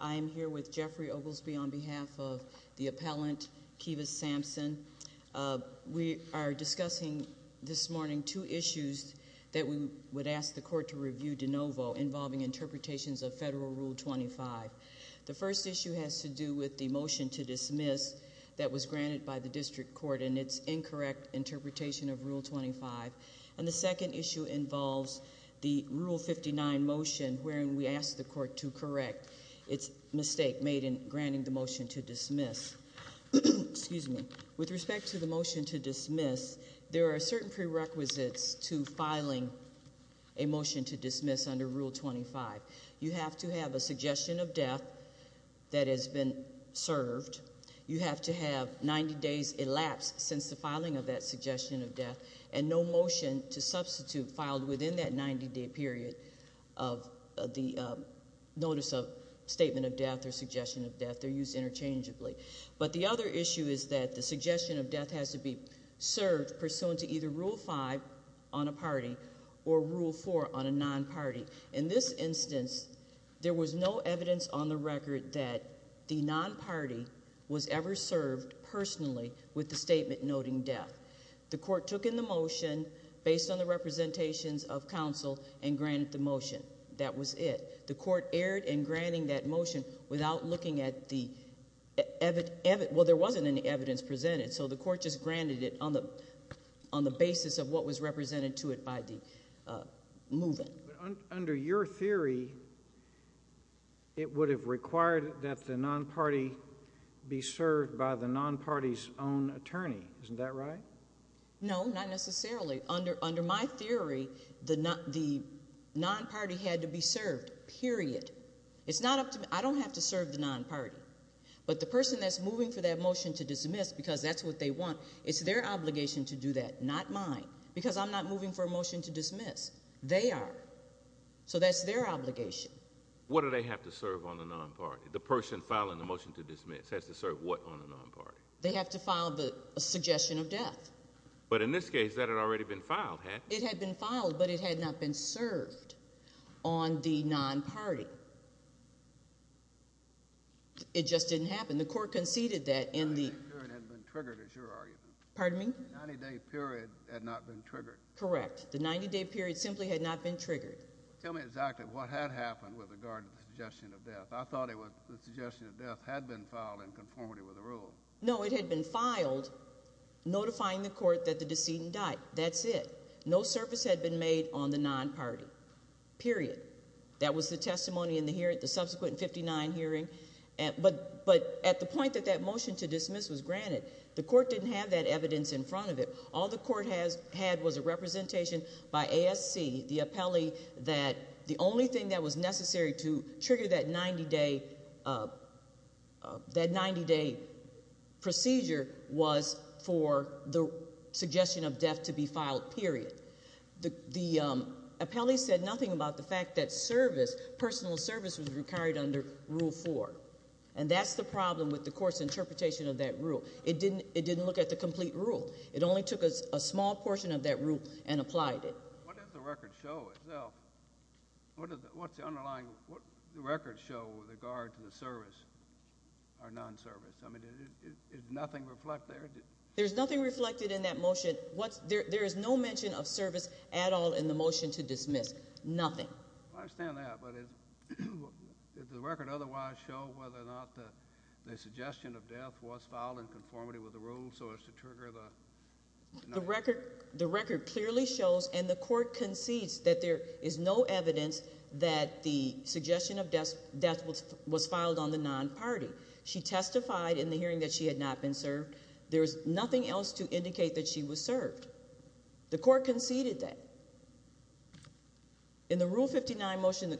I am here with Jeffrey Oglesby on behalf of the appellant Keva Sampson. We are discussing this morning two issues that we would ask the court to review de novo involving interpretations of Federal Rule 25. The first issue has to do with the motion to dismiss that was granted by the District Court in its incorrect interpretation of Rule 25. And the second issue involves the Rule 59 motion wherein we ask the court to correct its mistake made in granting the motion to dismiss. Excuse me, with respect to the motion to dismiss, there are certain prerequisites to filing a motion to dismiss under Rule 25. You have to have a suggestion of death that has been served. You have to have 90 days elapsed since the filing of that suggestion of death. And no motion to substitute filed within that 90 day period of the notice of statement of death or suggestion of death. They're used interchangeably. But the other issue is that the suggestion of death has to be served pursuant to either Rule 5 on a party or Rule 4 on a non-party. In this instance, there was no evidence on the record that the non-party was ever served personally with the statement noting death. The court took in the motion based on the representations of counsel and granted the motion. That was it. The court erred in granting that motion without looking at the, well there wasn't any evidence presented. So the court just granted it on the basis of what was represented to it by the movement. Under your theory, it would have required that the non-party be served by the non-party's own attorney, isn't that right? No, not necessarily. Under my theory, the non-party had to be served, period. It's not up to me, I don't have to serve the non-party. But the person that's moving for that motion to dismiss, because that's what they want, it's their obligation to do that, not mine. Because I'm not moving for a motion to dismiss, they are. So that's their obligation. What do they have to serve on the non-party? The person filing the motion to dismiss has to serve what on the non-party? They have to file the suggestion of death. But in this case, that had already been filed, hadn't it? It had been filed, but it had not been served on the non-party. It just didn't happen. The court conceded that in the- The 90-day period had been triggered, is your argument. Pardon me? The 90-day period had not been triggered. Correct. The 90-day period simply had not been triggered. Tell me exactly what had happened with regard to the suggestion of death. I thought the suggestion of death had been filed in conformity with the rule. No, it had been filed, notifying the court that the decedent died. That's it. No service had been made on the non-party, period. That was the testimony in the subsequent 59 hearing. But at the point that that motion to dismiss was granted, the court didn't have that evidence in front of it. All the court had was a representation by ASC, the appellee, that the only thing that was necessary to trigger that 90-day procedure was for the suggestion of death to be filed, period. The appellee said nothing about the fact that service, personal service, was required under rule four. And that's the problem with the court's interpretation of that rule. It didn't look at the complete rule. It only took a small portion of that rule and applied it. What does the record show itself? What's the underlying, what does the record show with regard to the service or non-service? I mean, did nothing reflect there? There's nothing reflected in that motion. There is no mention of service at all in the motion to dismiss, nothing. I understand that, but did the record otherwise show whether or not the suggestion of death was filed in conformity with the rule so as to trigger the- The record clearly shows, and the court concedes, that there is no evidence that the suggestion of death was filed on the non-party. She testified in the hearing that she had not been served. There's nothing else to indicate that she was served. The court conceded that. In the rule 59 motion,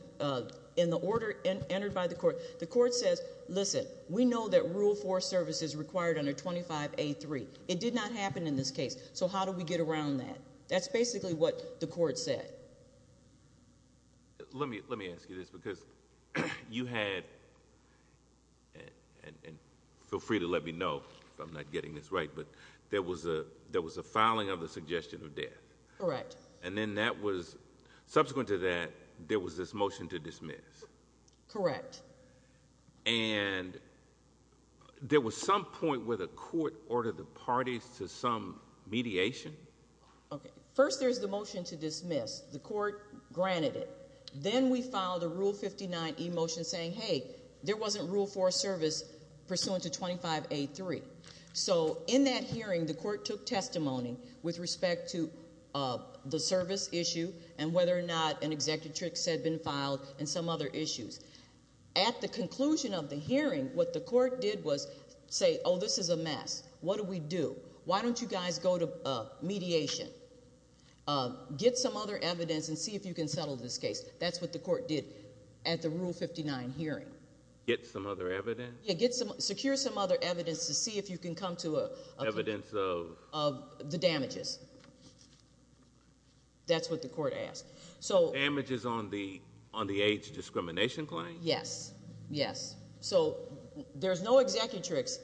in the order entered by the court, the court says, listen, we know that rule four service is required under 25A3. It did not happen in this case, so how do we get around that? That's basically what the court said. Let me ask you this, because you had, and feel free to let me know if I'm not getting this right, but there was a filing of the suggestion of death. Correct. And then that was, subsequent to that, there was this motion to dismiss. Correct. And there was some point where the court ordered the parties to some mediation. Okay, first there's the motion to dismiss. The court granted it. Then we filed a rule 59 e-motion saying, hey, there wasn't rule four service pursuant to 25A3. So in that hearing, the court took testimony with respect to the service issue, and whether or not an executive tricks had been filed, and some other issues. At the conclusion of the hearing, what the court did was say, this is a mess. What do we do? Why don't you guys go to mediation, get some other evidence, and see if you can settle this case. That's what the court did at the rule 59 hearing. Get some other evidence? Yeah, secure some other evidence to see if you can come to a- Evidence of? Of the damages. That's what the court asked. So- Damages on the age discrimination claim? Yes, yes. So, there's no executive tricks,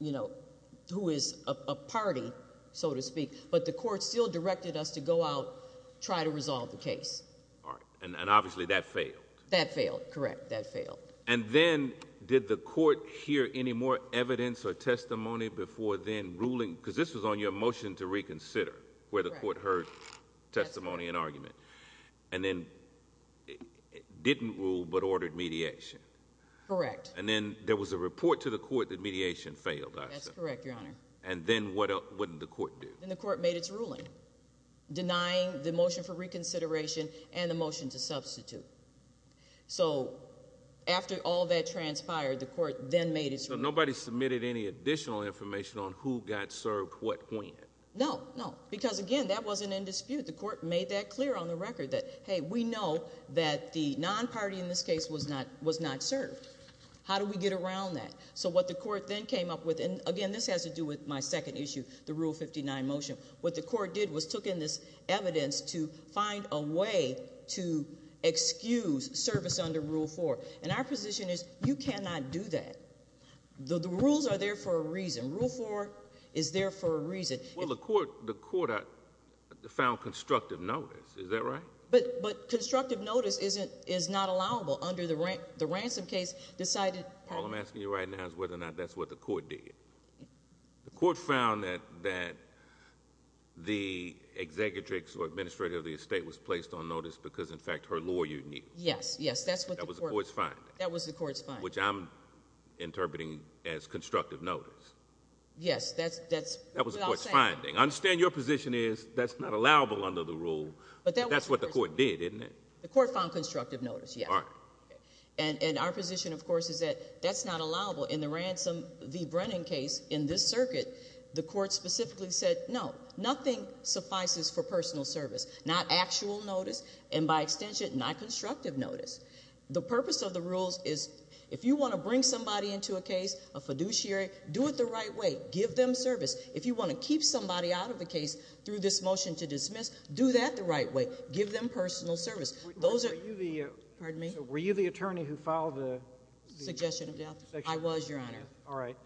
who is a party, so to speak. But the court still directed us to go out, try to resolve the case. All right, and obviously that failed. That failed, correct. That failed. And then, did the court hear any more evidence or testimony before then ruling, because this was on your motion to reconsider, where the court heard testimony and argument. And then, it didn't rule, but ordered mediation. Correct. And then, there was a report to the court that mediation failed, I assume. That's correct, your honor. And then, what did the court do? Then the court made its ruling, denying the motion for reconsideration and the motion to substitute. So, after all that transpired, the court then made its ruling. So, nobody submitted any additional information on who got served what when? No, no, because again, that wasn't in dispute. The court made that clear on the record that, hey, we know that the non-party in this case was not served. How do we get around that? So, what the court then came up with, and again, this has to do with my second issue, the Rule 59 motion. What the court did was took in this evidence to find a way to excuse service under Rule 4. And our position is, you cannot do that. The rules are there for a reason. Rule 4 is there for a reason. Well, the court found constructive notice, is that right? But constructive notice is not allowable under the ransom case decided- All I'm asking you right now is whether or not that's what the court did. The court found that the executrix or administrator of the estate was placed on notice because, in fact, her lawyer knew. Yes, yes, that's what the court- That was the court's finding. That was the court's finding. Which I'm interpreting as constructive notice. Yes, that's- That was the court's finding. I understand your position is that's not allowable under the rule, but that's what the court did, isn't it? The court found constructive notice, yes. And our position, of course, is that that's not allowable in the ransom v Brennan case in this circuit. The court specifically said, no, nothing suffices for personal service. Not actual notice, and by extension, not constructive notice. The purpose of the rules is if you want to bring somebody into a case, a fiduciary, do it the right way. Give them service. If you want to keep somebody out of the case through this motion to dismiss, do that the right way. Give them personal service. Those are- Pardon me? Were you the attorney who filed the- Suggestion of death. I was, your honor. All right.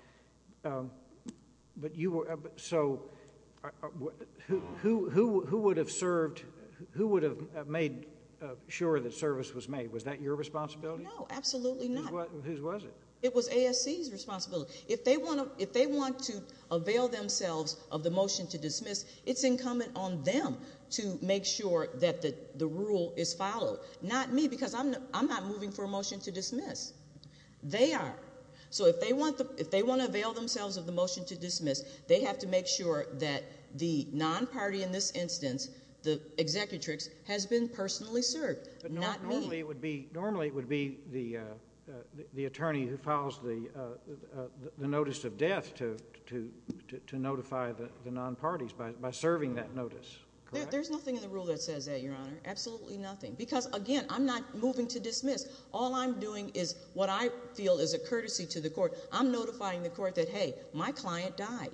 But you were, so, who would have served, who would have made sure that service was made? Was that your responsibility? No, absolutely not. Whose was it? It was ASC's responsibility. If they want to avail themselves of the motion to dismiss, it's incumbent on them to make sure that the rule is followed. Not me, because I'm not moving for a motion to dismiss. They are. So if they want to avail themselves of the motion to dismiss, they have to make sure that the non-party in this instance, Normally it would be the attorney who files the notice of death to notify the non-parties by serving that notice. There's nothing in the rule that says that, your honor. Absolutely nothing. Because, again, I'm not moving to dismiss. All I'm doing is what I feel is a courtesy to the court. I'm notifying the court that, hey, my client died.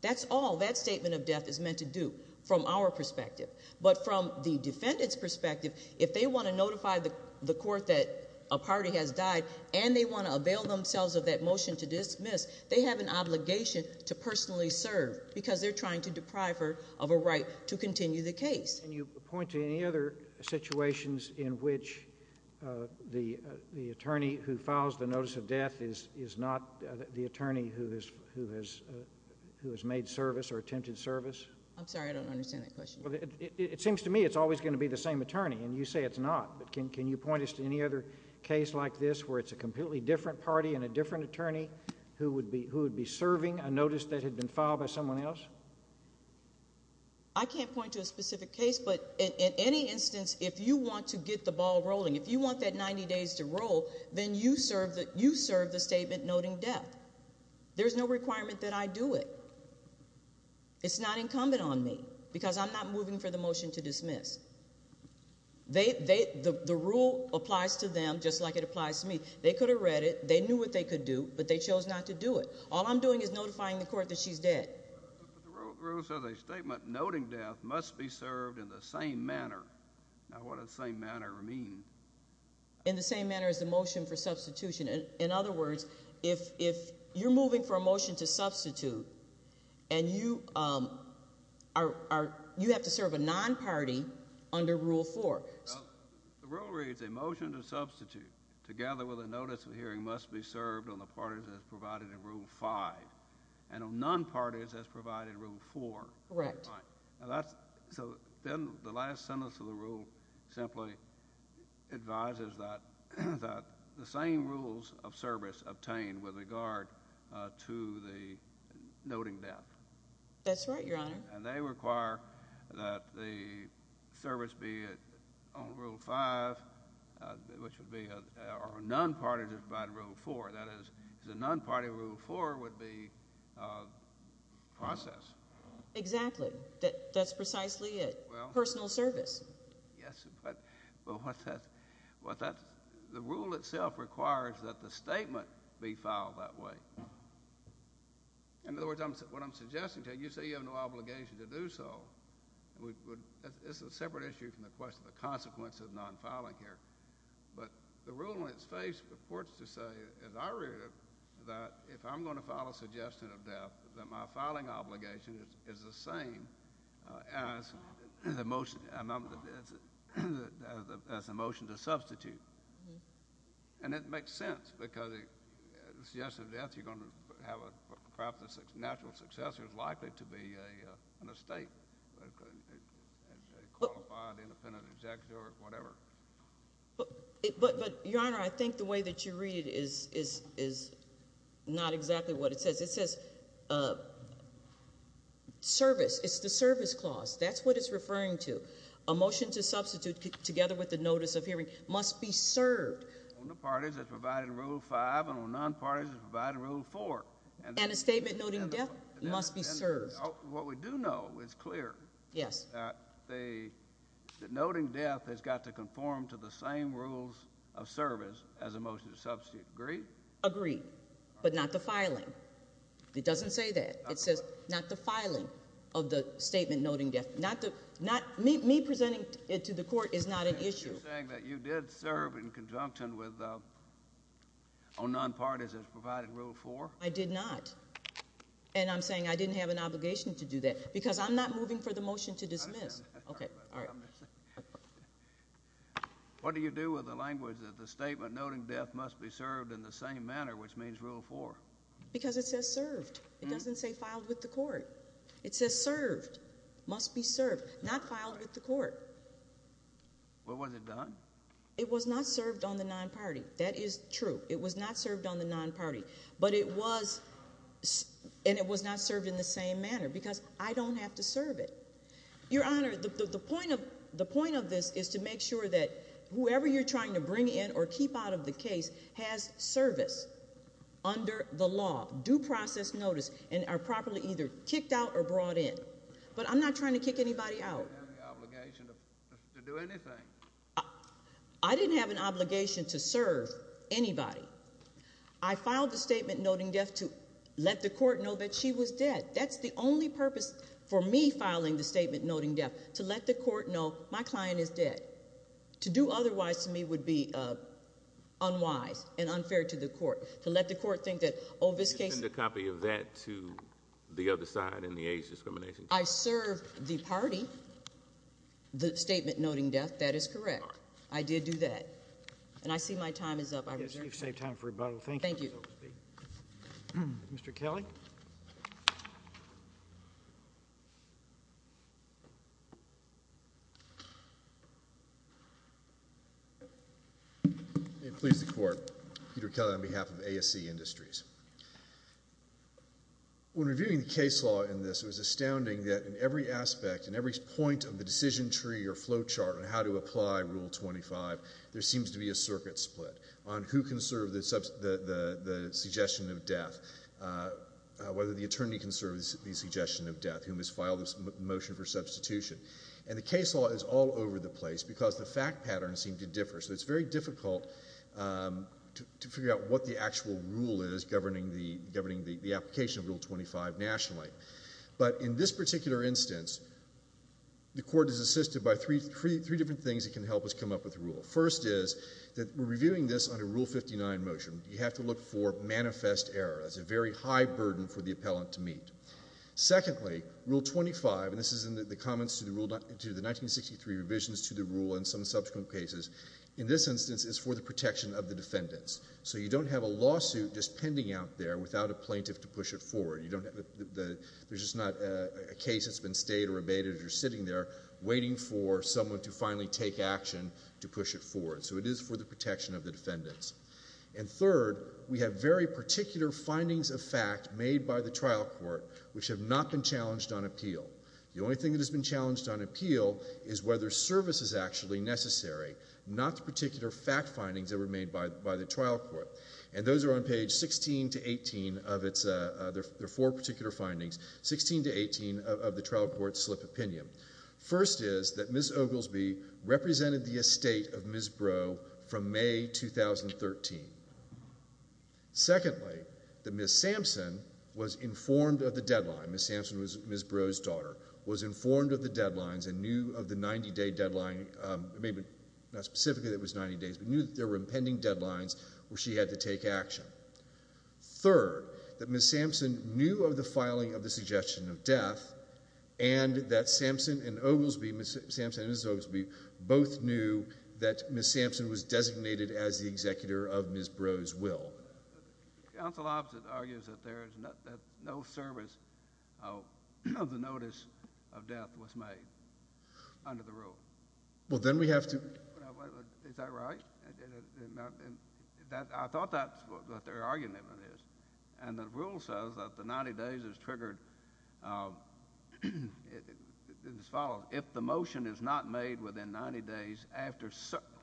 That's all that statement of death is meant to do from our perspective. But from the defendant's perspective, if they want to notify the court that a party has died, and they want to avail themselves of that motion to dismiss, they have an obligation to personally serve. Because they're trying to deprive her of a right to continue the case. Can you point to any other situations in which the attorney who files the notice of death is not the attorney who has made service or attempted service? I'm sorry, I don't understand that question. It seems to me it's always going to be the same attorney, and you say it's not. But can you point us to any other case like this where it's a completely different party and a different attorney who would be serving a notice that had been filed by someone else? I can't point to a specific case, but in any instance, if you want to get the ball rolling, if you want that 90 days to roll, then you serve the statement noting death. There's no requirement that I do it. It's not incumbent on me, because I'm not moving for the motion to dismiss. The rule applies to them just like it applies to me. They could have read it. They knew what they could do, but they chose not to do it. All I'm doing is notifying the court that she's dead. The rule says a statement noting death must be served in the same manner. Now what does same manner mean? In the same manner as the motion for substitution. In other words, if you're moving for a motion to substitute and you have to serve a non-party under rule four. The rule reads a motion to substitute together with a notice of hearing must be served on the parties as provided in rule five. And on non-parties as provided in rule four. Correct. So then the last sentence of the rule simply advises that the same rules of service obtained with regard to the noting death. That's right, your honor. And they require that the service be on rule five, which would be on non-parties as provided in rule four. That is, the non-party rule four would be process. Exactly, that's precisely it. Personal service. Yes, but what that, the rule itself requires that the statement be filed that way. In other words, what I'm suggesting to you, you say you have no obligation to do so. It's a separate issue from the question of the consequence of non-filing here. But the rule in its face purports to say, as I read it, that if I'm going to file a suggestion of death, that my filing obligation is the same as the motion to substitute. And it makes sense, because the suggestion of death, you're going to have a, perhaps the natural successor is likely to be an estate, a qualified, independent executor, whatever. But your honor, I think the way that you read it is not exactly what it says. It says service, it's the service clause, that's what it's referring to. A motion to substitute together with the notice of hearing must be served. On the parties as provided in rule five and on non-parties as provided in rule four. And a statement noting death must be served. What we do know is clear. Yes. That noting death has got to conform to the same rules of service as a motion to substitute, agree? Agreed. But not the filing. It doesn't say that. It says not the filing of the statement noting death. Not the, not, me presenting it to the court is not an issue. You're saying that you did serve in conjunction with, on non-parties as provided in rule four? I did not. And I'm saying I didn't have an obligation to do that. Because I'm not moving for the motion to dismiss. Okay, all right. What do you do with the language that the statement noting death must be served in the same manner, which means rule four? Because it says served. It doesn't say filed with the court. It says served. Must be served. Not filed with the court. Well, was it done? It was not served on the non-party. That is true. It was not served on the non-party. But it was, and it was not served in the same manner because I don't have to serve it. Your Honor, the point of this is to make sure that whoever you're trying to bring in or keep out of the case has service under the law, due process notice, and are properly either kicked out or brought in. But I'm not trying to kick anybody out. You didn't have the obligation to do anything. I didn't have an obligation to serve anybody. I filed the statement noting death to let the court know that she was dead. That's the only purpose for me filing the statement noting death, to let the court know my client is dead. To do otherwise to me would be unwise and unfair to the court. To let the court think that, oh, this case- You sent a copy of that to the other side in the AIDS discrimination case. I served the party, the statement noting death. That is correct. I did do that. And I see my time is up. I reserve- I guess you've saved time for rebuttal. Thank you. Thank you. Mr. Kelly? May it please the court. Peter Kelly on behalf of ASC Industries. When reviewing the case law in this, it was astounding that in every aspect, in every point of the decision tree or flow chart on how to apply Rule 25, there seems to be a circuit split on who can serve the suggestion of death. Whether the attorney can serve the suggestion of death, whom has filed this motion for substitution. And the case law is all over the place because the fact patterns seem to differ. So it's very difficult to figure out what the actual rule is governing the application of Rule 25 nationally. But in this particular instance, the court is assisted by three different things that can help us come up with a rule. First is that we're reviewing this under Rule 59 motion. You have to look for manifest error. That's a very high burden for the appellant to meet. Secondly, Rule 25, and this is in the comments to the 1963 revisions to the rule in some subsequent cases. In this instance, it's for the protection of the defendants. So you don't have a lawsuit just pending out there without a plaintiff to push it forward. You don't have the, there's just not a case that's been stayed or abated or sitting there waiting for someone to finally take action to push it forward. So it is for the protection of the defendants. And third, we have very particular findings of fact made by the trial court, which have not been challenged on appeal. The only thing that has been challenged on appeal is whether service is actually necessary, not the particular fact findings that were made by the trial court. And those are on page 16 to 18 of its, there are four particular findings, 16 to 18 of the trial court slip opinion. First is that Ms. Oglesby represented the estate of Ms. Brough from May 2013. Secondly, that Ms. Sampson was informed of the deadline. Ms. Sampson was Ms. Brough's daughter, was informed of the deadlines and knew of the 90 day deadline. Maybe not specifically that it was 90 days, but knew that there were impending deadlines where she had to take action. Third, that Ms. Sampson knew of the filing of the suggestion of death and that Sampson and Oglesby, Ms. Sampson and Ms. Oglesby, both knew that Ms. Sampson was designated as the executor of Ms. Brough's will. The counsel opposite argues that there is no service of the notice of death was made under the rule. Well, then we have to- Is that right? I thought that's what their argument is. And the rule says that the 90 days is triggered as follows. If the motion is not made within 90 days after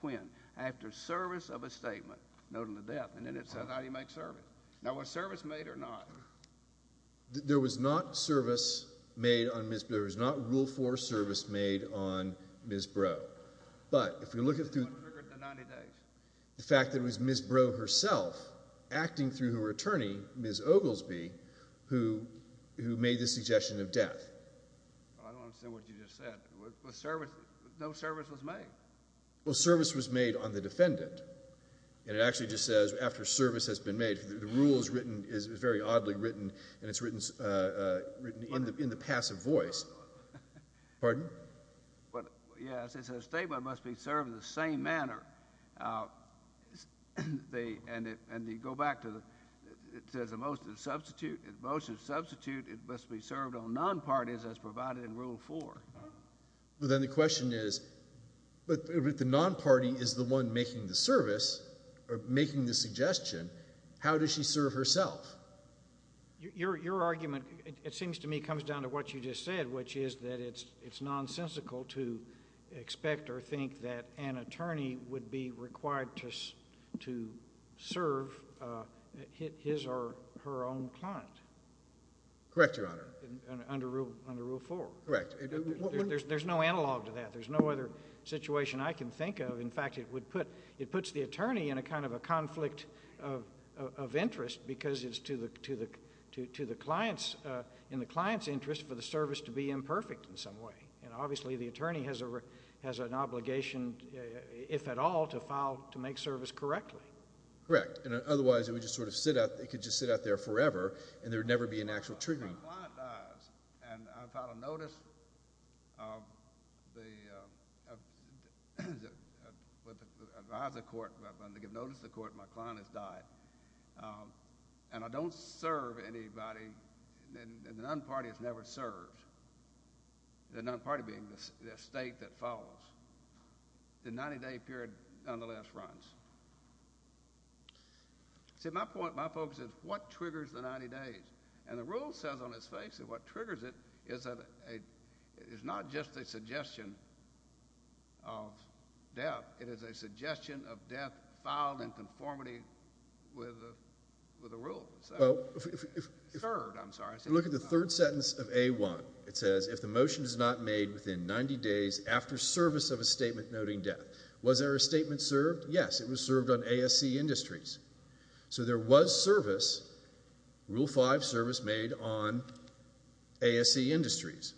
when? After service of a statement, noting the death, and then it says how do you make service? Now, was service made or not? There was not service made on Ms., there was not rule for service made on Ms. Brough. But if we look at the- Who triggered the 90 days? The fact that it was Ms. Brough herself acting through her attorney, Ms. Oglesby, who made the suggestion of death. I don't understand what you just said. No service was made? Well, service was made on the defendant. And it actually just says after service has been made. The rule is very oddly written and it's written in the passive voice. Pardon? Yes, it's a statement must be served in the same manner. And you go back to the, it says a motion to substitute, it must be served on non-parties as provided in rule four. Well, then the question is, but if the non-party is the one making the service, or making the suggestion, how does she serve herself? Your argument, it seems to me, comes down to what you just said, which is that it's nonsensical to expect or think that an attorney would be required to serve his or her own client. Correct, Your Honor. Under rule four. Correct. There's no analog to that. There's no other situation I can think of. In fact, it would put, it puts the attorney in a kind of a conflict of interest because it's to the client's, in the client's interest for the service to be imperfect in some way. And obviously the attorney has an obligation, if at all, to file, to make service correctly. Correct. And otherwise it would just sort of sit out, it could just sit out there forever and there would never be an actual triggering. Well, my client dies, and I've had a notice of the—advised the court, I've been to give notice to the court, my client has died. And I don't serve anybody, and the non-party has never served, the non-party being the state that follows. The 90-day period, nonetheless, runs. See, my point, my focus is, what triggers the 90 days? And the rule says on its face that what triggers it is that it is not just a suggestion of death, it is a suggestion of death filed in conformity with the rule. Well, if— Third, I'm sorry. Look at the third sentence of A-1. It says, if the motion is not made within 90 days after service of a statement noting death. Was there a statement served? Yes, it was served on ASC Industries. So there was service, Rule 5, service made on ASC Industries.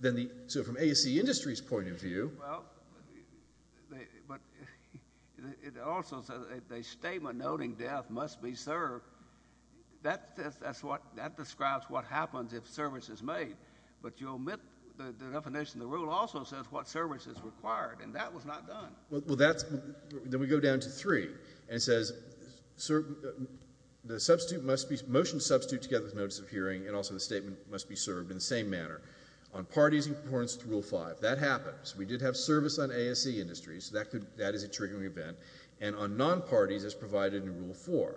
Then the—so from ASC Industries' point of view— Well, but it also says a statement noting death must be served. That describes what happens if service is made, but you omit the definition. The rule also says what service is required, and that was not done. Well, that's—then we go down to 3, and it says the substitute must be— motion substitute together with notice of hearing, and also the statement must be served in the same manner. On parties in accordance with Rule 5, that happens. We did have service on ASC Industries, so that is a triggering event. And on non-parties, as provided in Rule 4.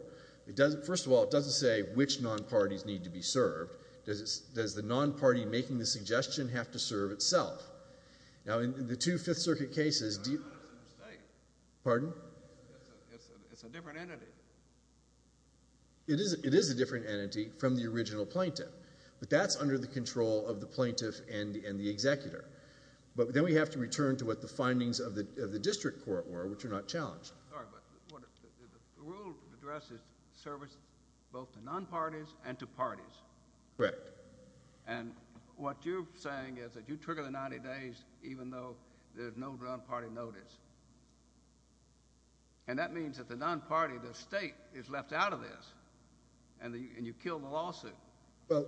First of all, it doesn't say which non-parties need to be served. Does the non-party making the suggestion have to serve itself? Now, in the two Fifth Circuit cases— I thought it was a mistake. Pardon? It's a different entity. It is a different entity from the original plaintiff, but that's under the control of the plaintiff and the executor. But then we have to return to what the findings of the district court were, which are not challenged. Sorry, but the rule addresses service both to non-parties and to parties. Correct. And what you're saying is that you trigger the 90 days even though there's no non-party notice. And that means that the non-party, the state, is left out of this, and you kill the lawsuit. Well,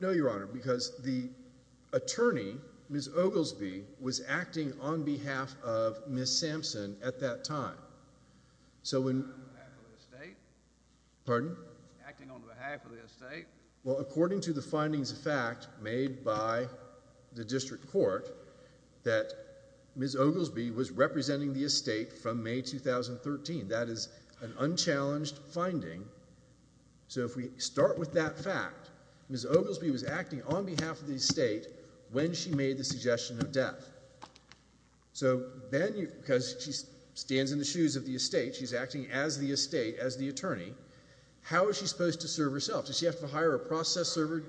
no, Your Honor, because the attorney, Ms. Oglesby, was acting on behalf of Ms. Sampson at that time. So when— Acting on behalf of the state? Pardon? Acting on behalf of the state? Well, according to the findings of fact made by the district court, that Ms. Oglesby was representing the estate from May 2013. That is an unchallenged finding. So if we start with that fact, Ms. Oglesby was acting on behalf of the estate when she made the suggestion of death. So then, because she stands in the shoes of the estate, she's acting as the estate, as the attorney. How is she supposed to serve herself? Does she have to hire a process server?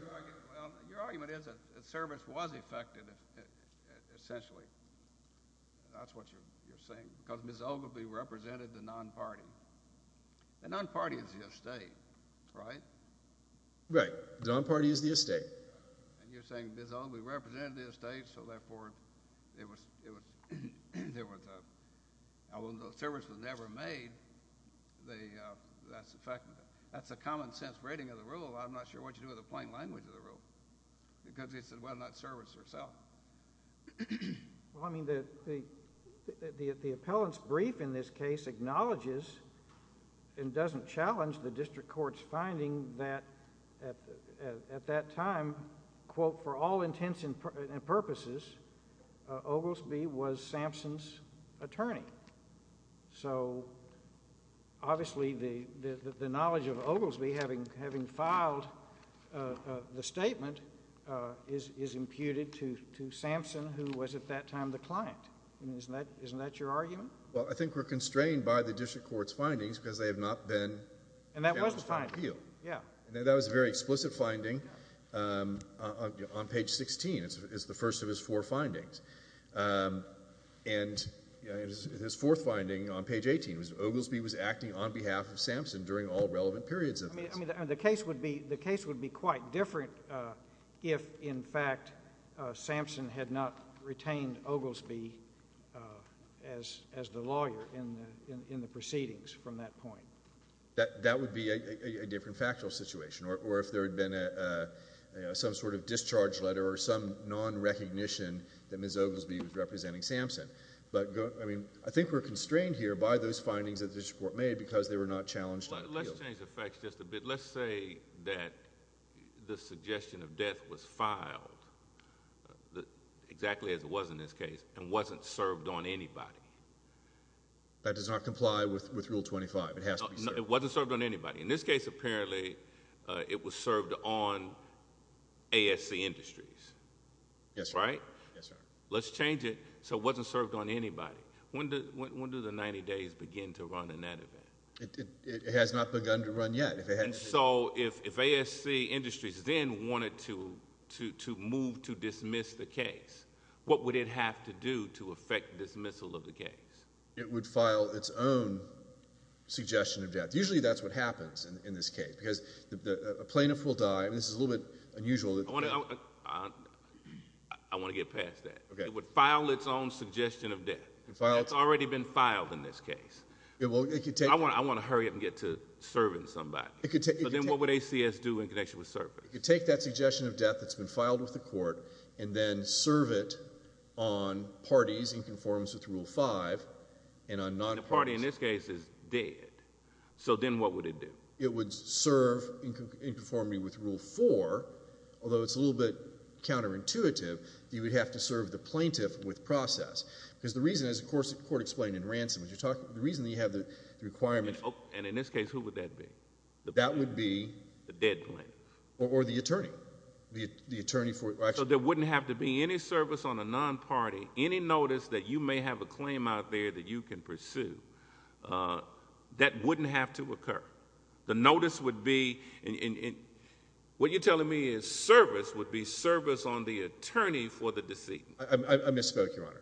Well, your argument is that service was effective, essentially. That's what you're saying. Because Ms. Oglesby represented the non-party. The non-party is the estate, right? Right. The non-party is the estate. And you're saying Ms. Oglesby represented the estate, so therefore it was— Now, when the service was never made, that's a fact—that's a common sense rating of the rule. I'm not sure what you do with the plain language of the rule. Because it's whether or not service or self. Well, I mean, the appellant's brief in this case acknowledges and doesn't challenge the district court's finding that at that time, quote, for all intents and purposes, Oglesby was Sampson's attorney. So obviously the knowledge of Oglesby having filed the statement is imputed to Sampson, who was at that time the client. Isn't that your argument? Well, I think we're constrained by the district court's findings because they have not been— And that was the finding. That was a very explicit finding on page 16. It's the first of his four findings. And his fourth finding on page 18 was Oglesby was acting on behalf of Sampson during all relevant periods of this. I mean, the case would be quite different if, in fact, Sampson had not retained Oglesby as the lawyer in the proceedings from that point. That would be a different factual situation. Or if there had been some sort of discharge letter or some non-recognition that Ms. Oglesby was representing Sampson. But, I mean, I think we're constrained here by those findings that the district court made because they were not challenged in the deal. Let's change the facts just a bit. Let's say that the suggestion of death was filed, exactly as it was in this case, and wasn't served on anybody. That does not comply with Rule 25. It has to be served. It wasn't served on anybody. In this case, apparently, it was served on ASC Industries. Yes, sir. Right? Yes, sir. Let's change it so it wasn't served on anybody. When do the 90 days begin to run in that event? It has not begun to run yet. And so if ASC Industries then wanted to move to dismiss the case, what would it have to do to effect dismissal of the case? It would file its own suggestion of death. Usually that's what happens in this case because a plaintiff will die. This is a little bit unusual. I want to get past that. It would file its own suggestion of death. That's already been filed in this case. I want to hurry up and get to serving somebody. But then what would ACS do in connection with serving? It could take that suggestion of death that's been filed with the court and then serve it on parties in conformance with Rule 5 and on non-parties. The party in this case is dead. So then what would it do? It would serve in conformity with Rule 4. Although it's a little bit counterintuitive, you would have to serve the plaintiff with process. Because the reason, as the court explained in Ransom, the reason you have the requirement... And in this case, who would that be? That would be... The dead plaintiff. Or the attorney. The attorney for... So there wouldn't have to be any service on a non-party, any notice that you may have a claim out there that you can pursue. That wouldn't have to occur. The notice would be... What you're telling me is service would be service on the attorney for the decedent. I misspoke, Your Honor.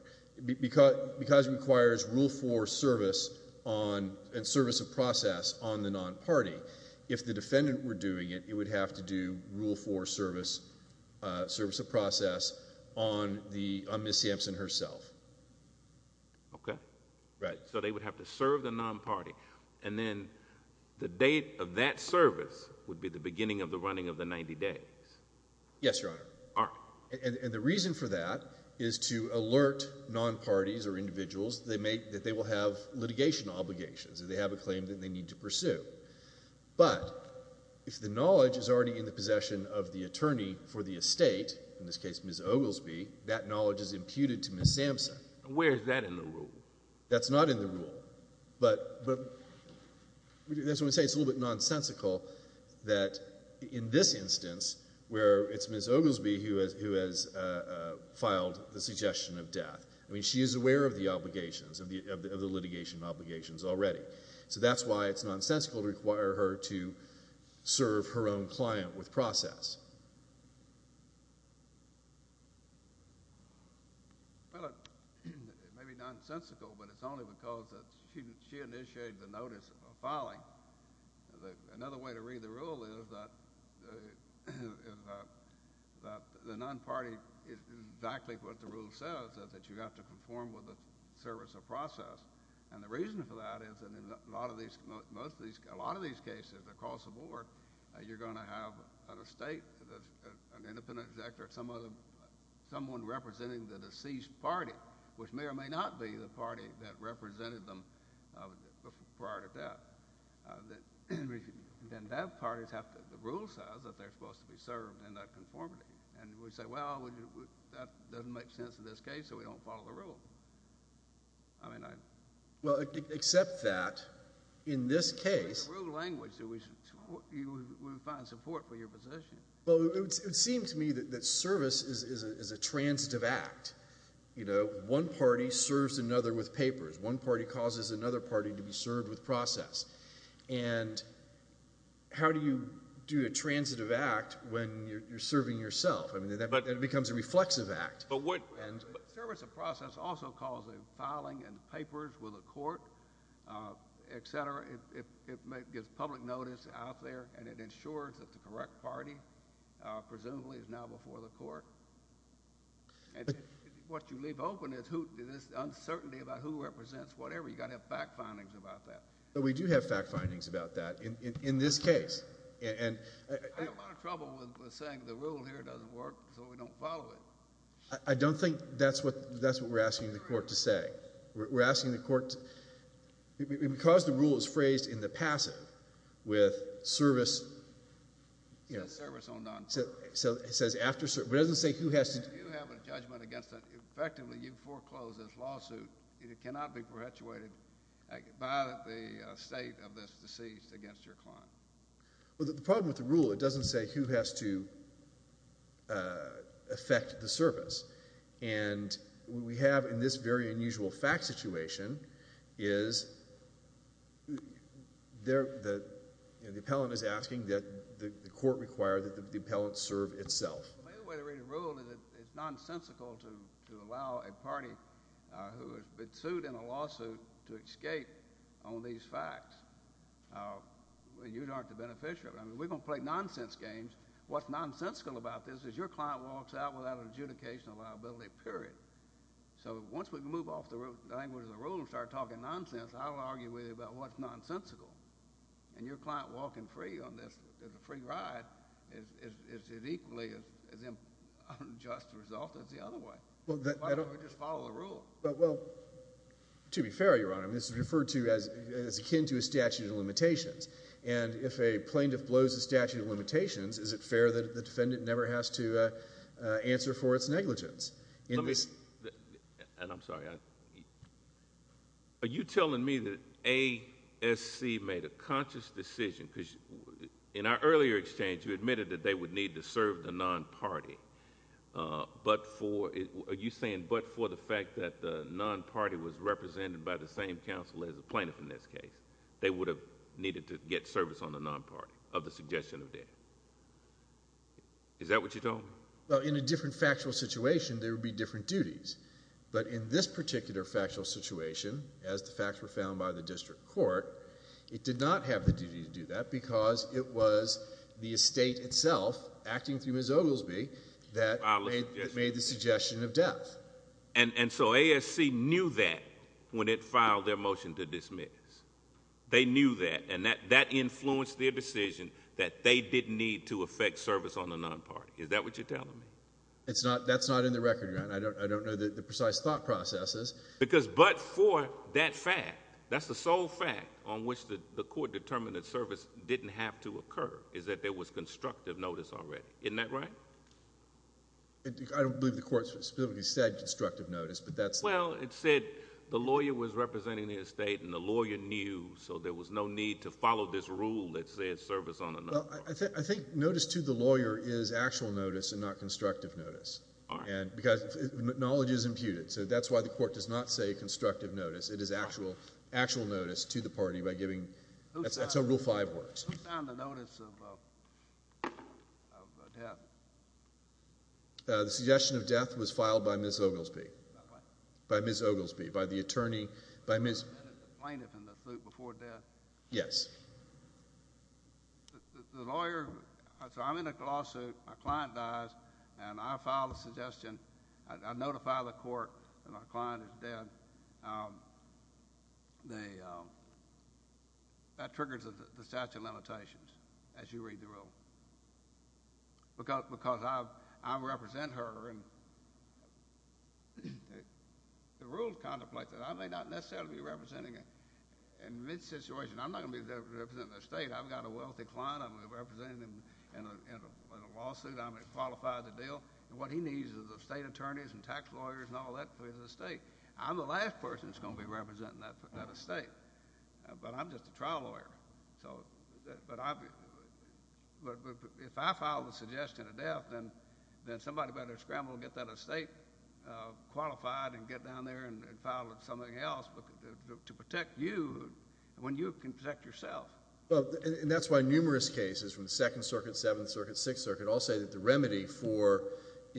Because it requires Rule 4 service and service of process on the non-party. If the defendant were doing it, it would have to do Rule 4 service of process on Ms. Sampson herself. Okay. Right. So they would have to serve the non-party. And then the date of that service would be the beginning of the running of the 90 days. Yes, Your Honor. All right. And the reason for that is to alert non-parties or individuals that they will have litigation obligations, that they have a claim that they need to pursue. But if the knowledge is already in the possession of the attorney for the estate, in this case Ms. Oglesby, that knowledge is imputed to Ms. Sampson. Where is that in the rule? That's not in the rule. That's what I'm saying. It's a little bit nonsensical that in this instance where it's Ms. Oglesby who has filed the suggestion of death. I mean she is aware of the obligations, of the litigation obligations already. So that's why it's nonsensical to require her to serve her own client with process. Well, it may be nonsensical, but it's only because she initiated the notice of filing. Another way to read the rule is that the non-party is exactly what the rule says, that you have to conform with the service of process. And the reason for that is that in a lot of these cases across the board, you're going to have an estate, an independent executive, or someone representing the deceased party, which may or may not be the party that represented them prior to death. Then that party has to—the rule says that they're supposed to be served in that conformity. And we say, well, that doesn't make sense in this case, so we don't follow the rule. I mean, I— Well, except that in this case— In the rule language, you would find support for your position. Well, it would seem to me that service is a transitive act. You know, one party serves another with papers. One party causes another party to be served with process. And how do you do a transitive act when you're serving yourself? I mean, it becomes a reflexive act. But what— Service of process also causes filing and papers with the court, et cetera. It gets public notice out there, and it ensures that the correct party presumably is now before the court. And what you leave open is uncertainty about who represents whatever. You've got to have fact findings about that. But we do have fact findings about that in this case. I have a lot of trouble with saying the rule here doesn't work, so we don't follow it. I don't think that's what we're asking the court to say. We're asking the court—because the rule is phrased in the passive with service— It says service on non— It says after—but it doesn't say who has to— If you have a judgment against that, effectively you foreclose this lawsuit. It cannot be perpetuated by the state of this deceased against your client. Well, the problem with the rule, it doesn't say who has to affect the service. And what we have in this very unusual fact situation is the appellant is asking that the court require that the appellant serve itself. The main way to read a rule is it's nonsensical to allow a party who has been sued in a lawsuit to escape on these facts. You aren't the beneficiary. I mean, we don't play nonsense games. What's nonsensical about this is your client walks out without an adjudication of liability, period. So once we move off the language of the rule and start talking nonsense, I don't argue with you about what's nonsensical. And your client walking free on this free ride is equally as unjust a result as the other way. Why don't we just follow the rule? Well, to be fair, Your Honor, this is referred to as akin to a statute of limitations. And if a plaintiff blows the statute of limitations, is it fair that the defendant never has to answer for its negligence? And I'm sorry, are you telling me that ASC made a conscious decision? Because in our earlier exchange, you admitted that they would need to serve the non-party. Are you saying but for the fact that the non-party was represented by the same counsel as the plaintiff in this case, they would have needed to get service on the non-party of the suggestion of death? Is that what you told me? Well, in a different factual situation, there would be different duties. But in this particular factual situation, as the facts were found by the district court, it did not have the duty to do that because it was the estate itself acting through Ms. Oglesby that made the suggestion of death. And so ASC knew that when it filed their motion to dismiss. They knew that, and that influenced their decision that they didn't need to effect service on the non-party. Is that what you're telling me? That's not in the record, Your Honor. I don't know the precise thought processes. Because but for that fact, that's the sole fact on which the court determined that service didn't have to occur, is that there was constructive notice already. Isn't that right? I don't believe the court specifically said constructive notice, but that's— Well, it said the lawyer was representing the estate, and the lawyer knew, so there was no need to follow this rule that said service on the non-party. Well, I think notice to the lawyer is actual notice and not constructive notice. All right. Because knowledge is imputed, so that's why the court does not say constructive notice. It is actual notice to the party by giving—that's how Rule 5 works. Who found the notice of death? The suggestion of death was filed by Ms. Oglesby. By what? By Ms. Oglesby, by the attorney— By the plaintiff in the suit before death? Yes. The lawyer—so I'm in a lawsuit. My client dies, and I file a suggestion. I notify the court that my client is dead. That triggers the statute of limitations, as you read the rule. Because I represent her, and the rules contemplate that. I may not necessarily be representing—in this situation, I'm not going to be representing the estate. I've got a wealthy client. I'm going to be representing him in a lawsuit. I'm going to qualify the deal, and what he needs is estate attorneys and tax lawyers and all that for his estate. I'm the last person that's going to be representing that estate, but I'm just a trial lawyer. But if I file the suggestion of death, then somebody better scramble and get that estate qualified and get down there and file something else to protect you when you can protect yourself. And that's why numerous cases from the Second Circuit, Seventh Circuit, Sixth Circuit, all say that the remedy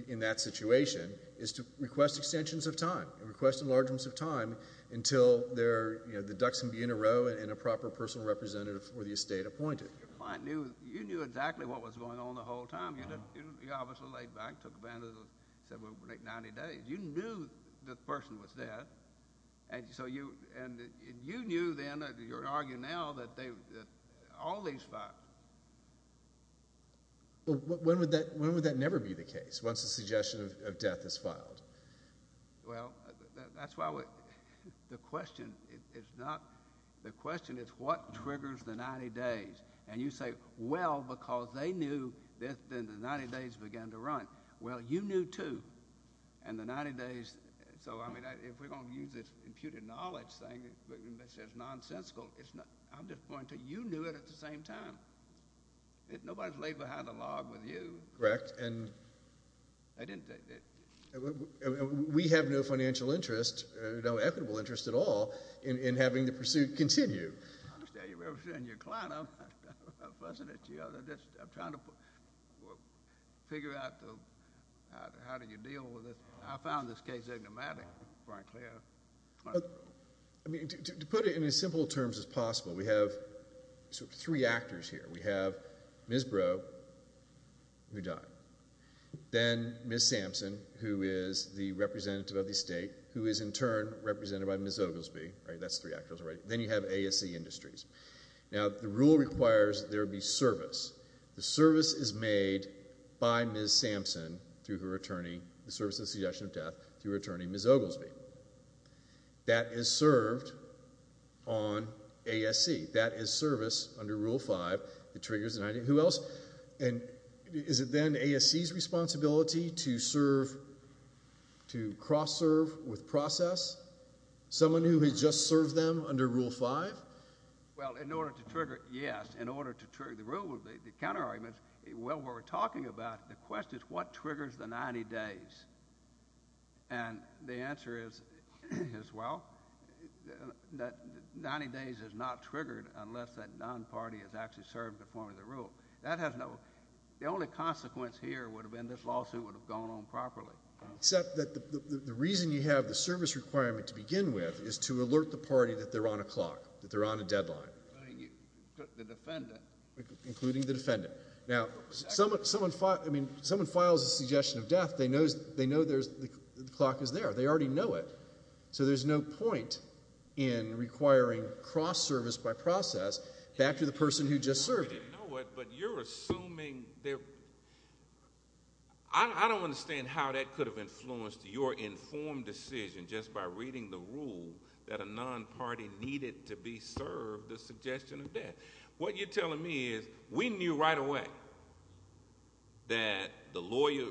in that situation is to request extensions of time and request enlargements of time until the ducks can be in a row and a proper personal representative for the estate appointed. Your client knew—you knew exactly what was going on the whole time. You obviously laid back, took advantage of the late 90 days. You knew the person was dead, and you knew then, you're arguing now, that all these files— When would that never be the case, once the suggestion of death is filed? Well, that's why the question is not—the question is what triggers the 90 days. And you say, well, because they knew, then the 90 days began to run. Well, you knew, too, and the 90 days—so, I mean, if we're going to use this imputed knowledge thing that says nonsensical, I'm just pointing to you knew it at the same time. Nobody's laid behind a log with you. Correct, and we have no financial interest, no equitable interest at all, in having the pursuit continue. I understand you're representing your client. I'm not fussing at you. I'm just trying to figure out how do you deal with it. I found this case enigmatic, frankly. I mean, to put it in as simple terms as possible, we have three actors here. We have Ms. Breaux, who died, then Ms. Sampson, who is the representative of the estate, who is in turn represented by Ms. Oglesby, right? That's three actors, right? Then you have ASC Industries. Now, the rule requires there be service. The service is made by Ms. Sampson through her attorney—the service of the suggestion of death through her attorney, Ms. Oglesby. That is served on ASC. That is service under Rule 5. It triggers the 90—who else? And is it then ASC's responsibility to serve—to cross-serve with process? Someone who has just served them under Rule 5? Well, in order to trigger it, yes. In order to trigger the rule, the counterargument is, well, what we're talking about, the question is, what triggers the 90 days? And the answer is, well, 90 days is not triggered unless that non-party has actually served in the form of the rule. That has no—the only consequence here would have been this lawsuit would have gone on properly. Except that the reason you have the service requirement to begin with is to alert the party that they're on a clock, that they're on a deadline. Including the defendant. Including the defendant. Now, someone files a suggestion of death. They know there's—the clock is there. They already know it. So there's no point in requiring cross-service by process back to the person who just served it. I know it, but you're assuming—I don't understand how that could have influenced your informed decision just by reading the rule that a non-party needed to be served the suggestion of death. What you're telling me is we knew right away that the lawyer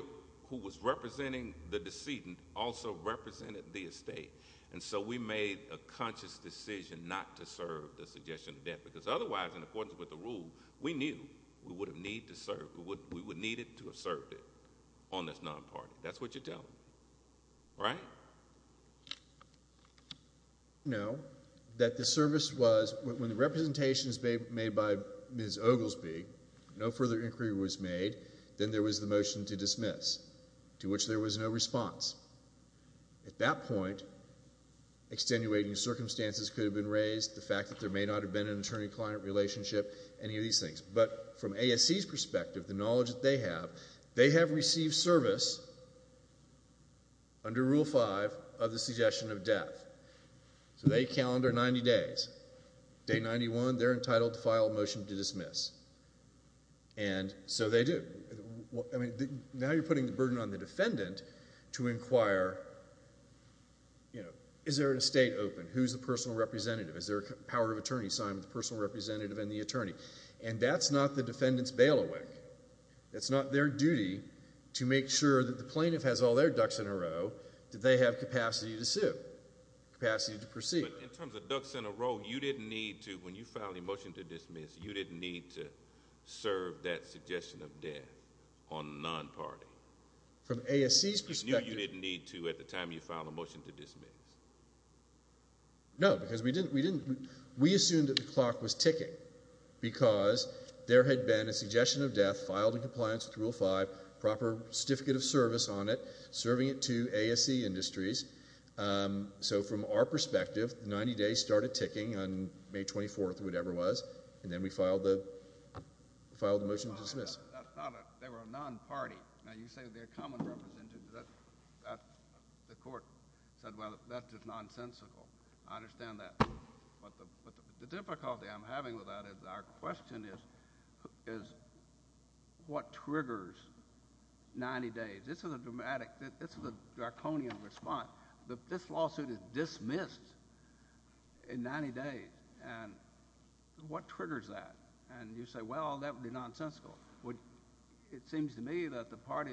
who was representing the decedent also represented the estate. And so we made a conscious decision not to serve the suggestion of death. Because otherwise, in accordance with the rule, we knew we would have needed to have served it on this non-party. That's what you're telling me. Right? No. That the service was—when the representations made by Ms. Oglesby, no further inquiry was made, then there was the motion to dismiss, to which there was no response. At that point, extenuating circumstances could have been raised, the fact that there may not have been an attorney-client relationship, any of these things. But from ASC's perspective, the knowledge that they have, they have received service under Rule 5 of the suggestion of death. So they calendar 90 days. Day 91, they're entitled to file a motion to dismiss. And so they do. Now you're putting the burden on the defendant to inquire, is there an estate open? Who's the personal representative? Is there a power of attorney signed with the personal representative and the attorney? And that's not the defendant's bailiwick. That's not their duty to make sure that the plaintiff has all their ducks in a row, that they have capacity to sue, capacity to proceed. In terms of ducks in a row, you didn't need to, when you filed a motion to dismiss, you didn't need to serve that suggestion of death on the non-party. From ASC's perspective— You knew you didn't need to at the time you filed a motion to dismiss. No, because we didn't—we assumed that the clock was ticking because there had been a suggestion of death filed in compliance with Rule 5, proper certificate of service on it, serving it to ASC industries. So from our perspective, 90 days started ticking on May 24th or whatever it was, and then we filed the motion to dismiss. They were a non-party. Now you say they're common representatives. The court said, well, that's just nonsensical. I understand that. But the difficulty I'm having with that is our question is, what triggers 90 days? This is a dramatic—this is a draconian response. This lawsuit is dismissed in 90 days, and what triggers that? And you say, well, that would be nonsensical. It seems to me that the party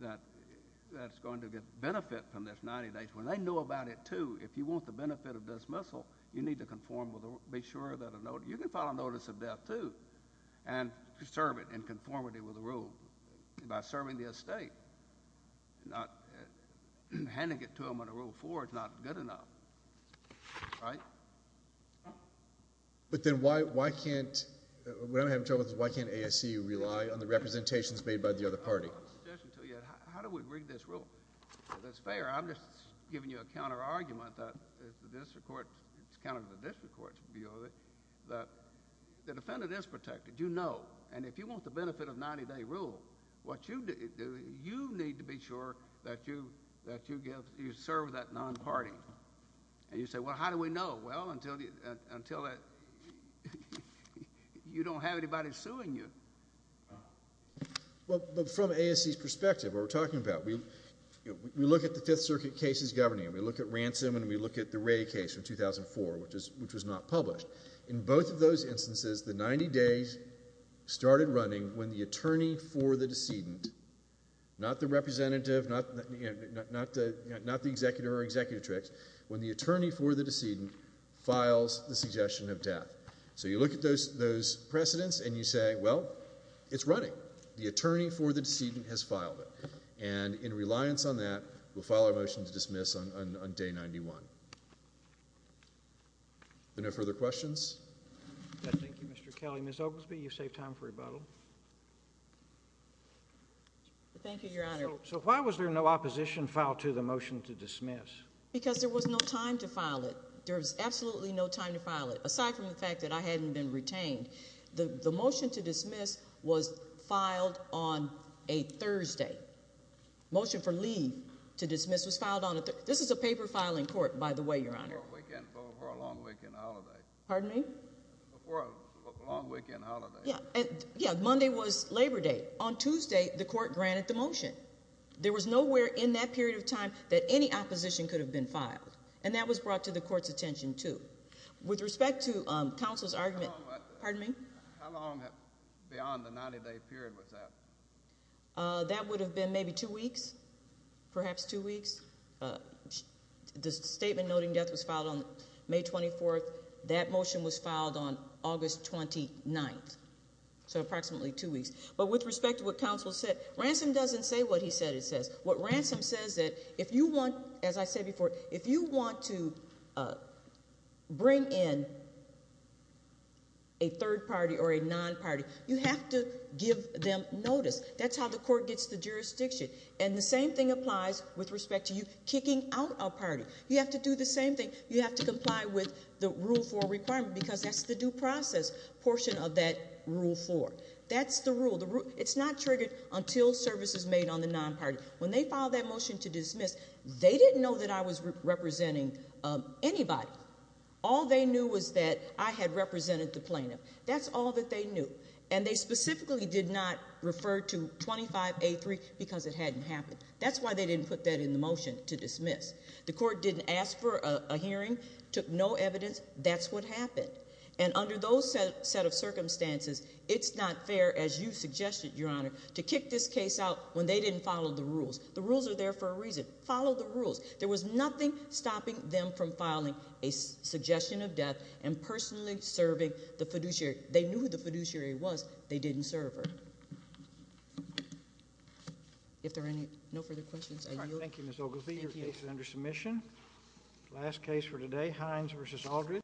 that's going to get benefit from this 90 days, when they know about it, too, if you want the benefit of dismissal, you need to conform with—be sure that—you can file a notice of death, too, and serve it in conformity with the rule by serving the estate. Handing it to them under Rule 4 is not good enough. Right? But then why can't—what I'm having trouble with is why can't ASC rely on the representations made by the other party? I have a suggestion to you. How do we rig this rule? That's fair. I'm just giving you a counterargument that the district court—it's counter to the district court's view of it—that the defendant is protected. You know. And if you want the benefit of 90-day rule, you need to be sure that you serve that non-party. And you say, well, how do we know? Well, until you don't have anybody suing you. Well, from ASC's perspective, what we're talking about, we look at the Fifth Circuit cases governing it. We look at Ransom, and we look at the Wray case from 2004, which was not published. In both of those instances, the 90 days started running when the attorney for the decedent—not the representative, not the executor or executrix—when the attorney for the decedent files the suggestion of death. So you look at those precedents, and you say, well, it's running. The attorney for the decedent has filed it. And in reliance on that, we'll file a motion to dismiss on Day 91. Any further questions? Thank you, Mr. Kelly. Ms. Oglesby, you've saved time for rebuttal. Thank you, Your Honor. So why was there no opposition filed to the motion to dismiss? Because there was no time to file it. There was absolutely no time to file it, aside from the fact that I hadn't been retained. The motion to dismiss was filed on a Thursday. The motion for leave to dismiss was filed on a Thursday. This is a paper filing court, by the way, Your Honor. Before a long weekend holiday. Pardon me? Before a long weekend holiday. Yeah. Monday was Labor Day. On Tuesday, the court granted the motion. There was nowhere in that period of time that any opposition could have been filed. And that was brought to the court's attention, too. With respect to counsel's argument— How long— Pardon me? How long beyond the 90-day period was that? That would have been maybe two weeks. Perhaps two weeks. The statement noting death was filed on May 24th. That motion was filed on August 29th. So approximately two weeks. But with respect to what counsel said, Ransom doesn't say what he said it says. What Ransom says is that if you want, as I said before, if you want to bring in a third party or a non-party, you have to give them notice. That's how the court gets the jurisdiction. And the same thing applies with respect to you kicking out a party. You have to do the same thing. You have to comply with the Rule 4 requirement because that's the due process portion of that Rule 4. That's the rule. It's not triggered until service is made on the non-party. When they filed that motion to dismiss, they didn't know that I was representing anybody. All they knew was that I had represented the plaintiff. That's all that they knew. And they specifically did not refer to 25A3 because it hadn't happened. That's why they didn't put that in the motion to dismiss. The court didn't ask for a hearing, took no evidence. That's what happened. And under those set of circumstances, it's not fair, as you suggested, Your Honor, to kick this case out when they didn't follow the rules. The rules are there for a reason. Follow the rules. There was nothing stopping them from filing a suggestion of death and personally serving the fiduciary. The fiduciary was, they didn't serve her. If there are no further questions, I yield. Thank you, Ms. Ogilvie. Your case is under submission. Last case for today, Hines v. Aldridge.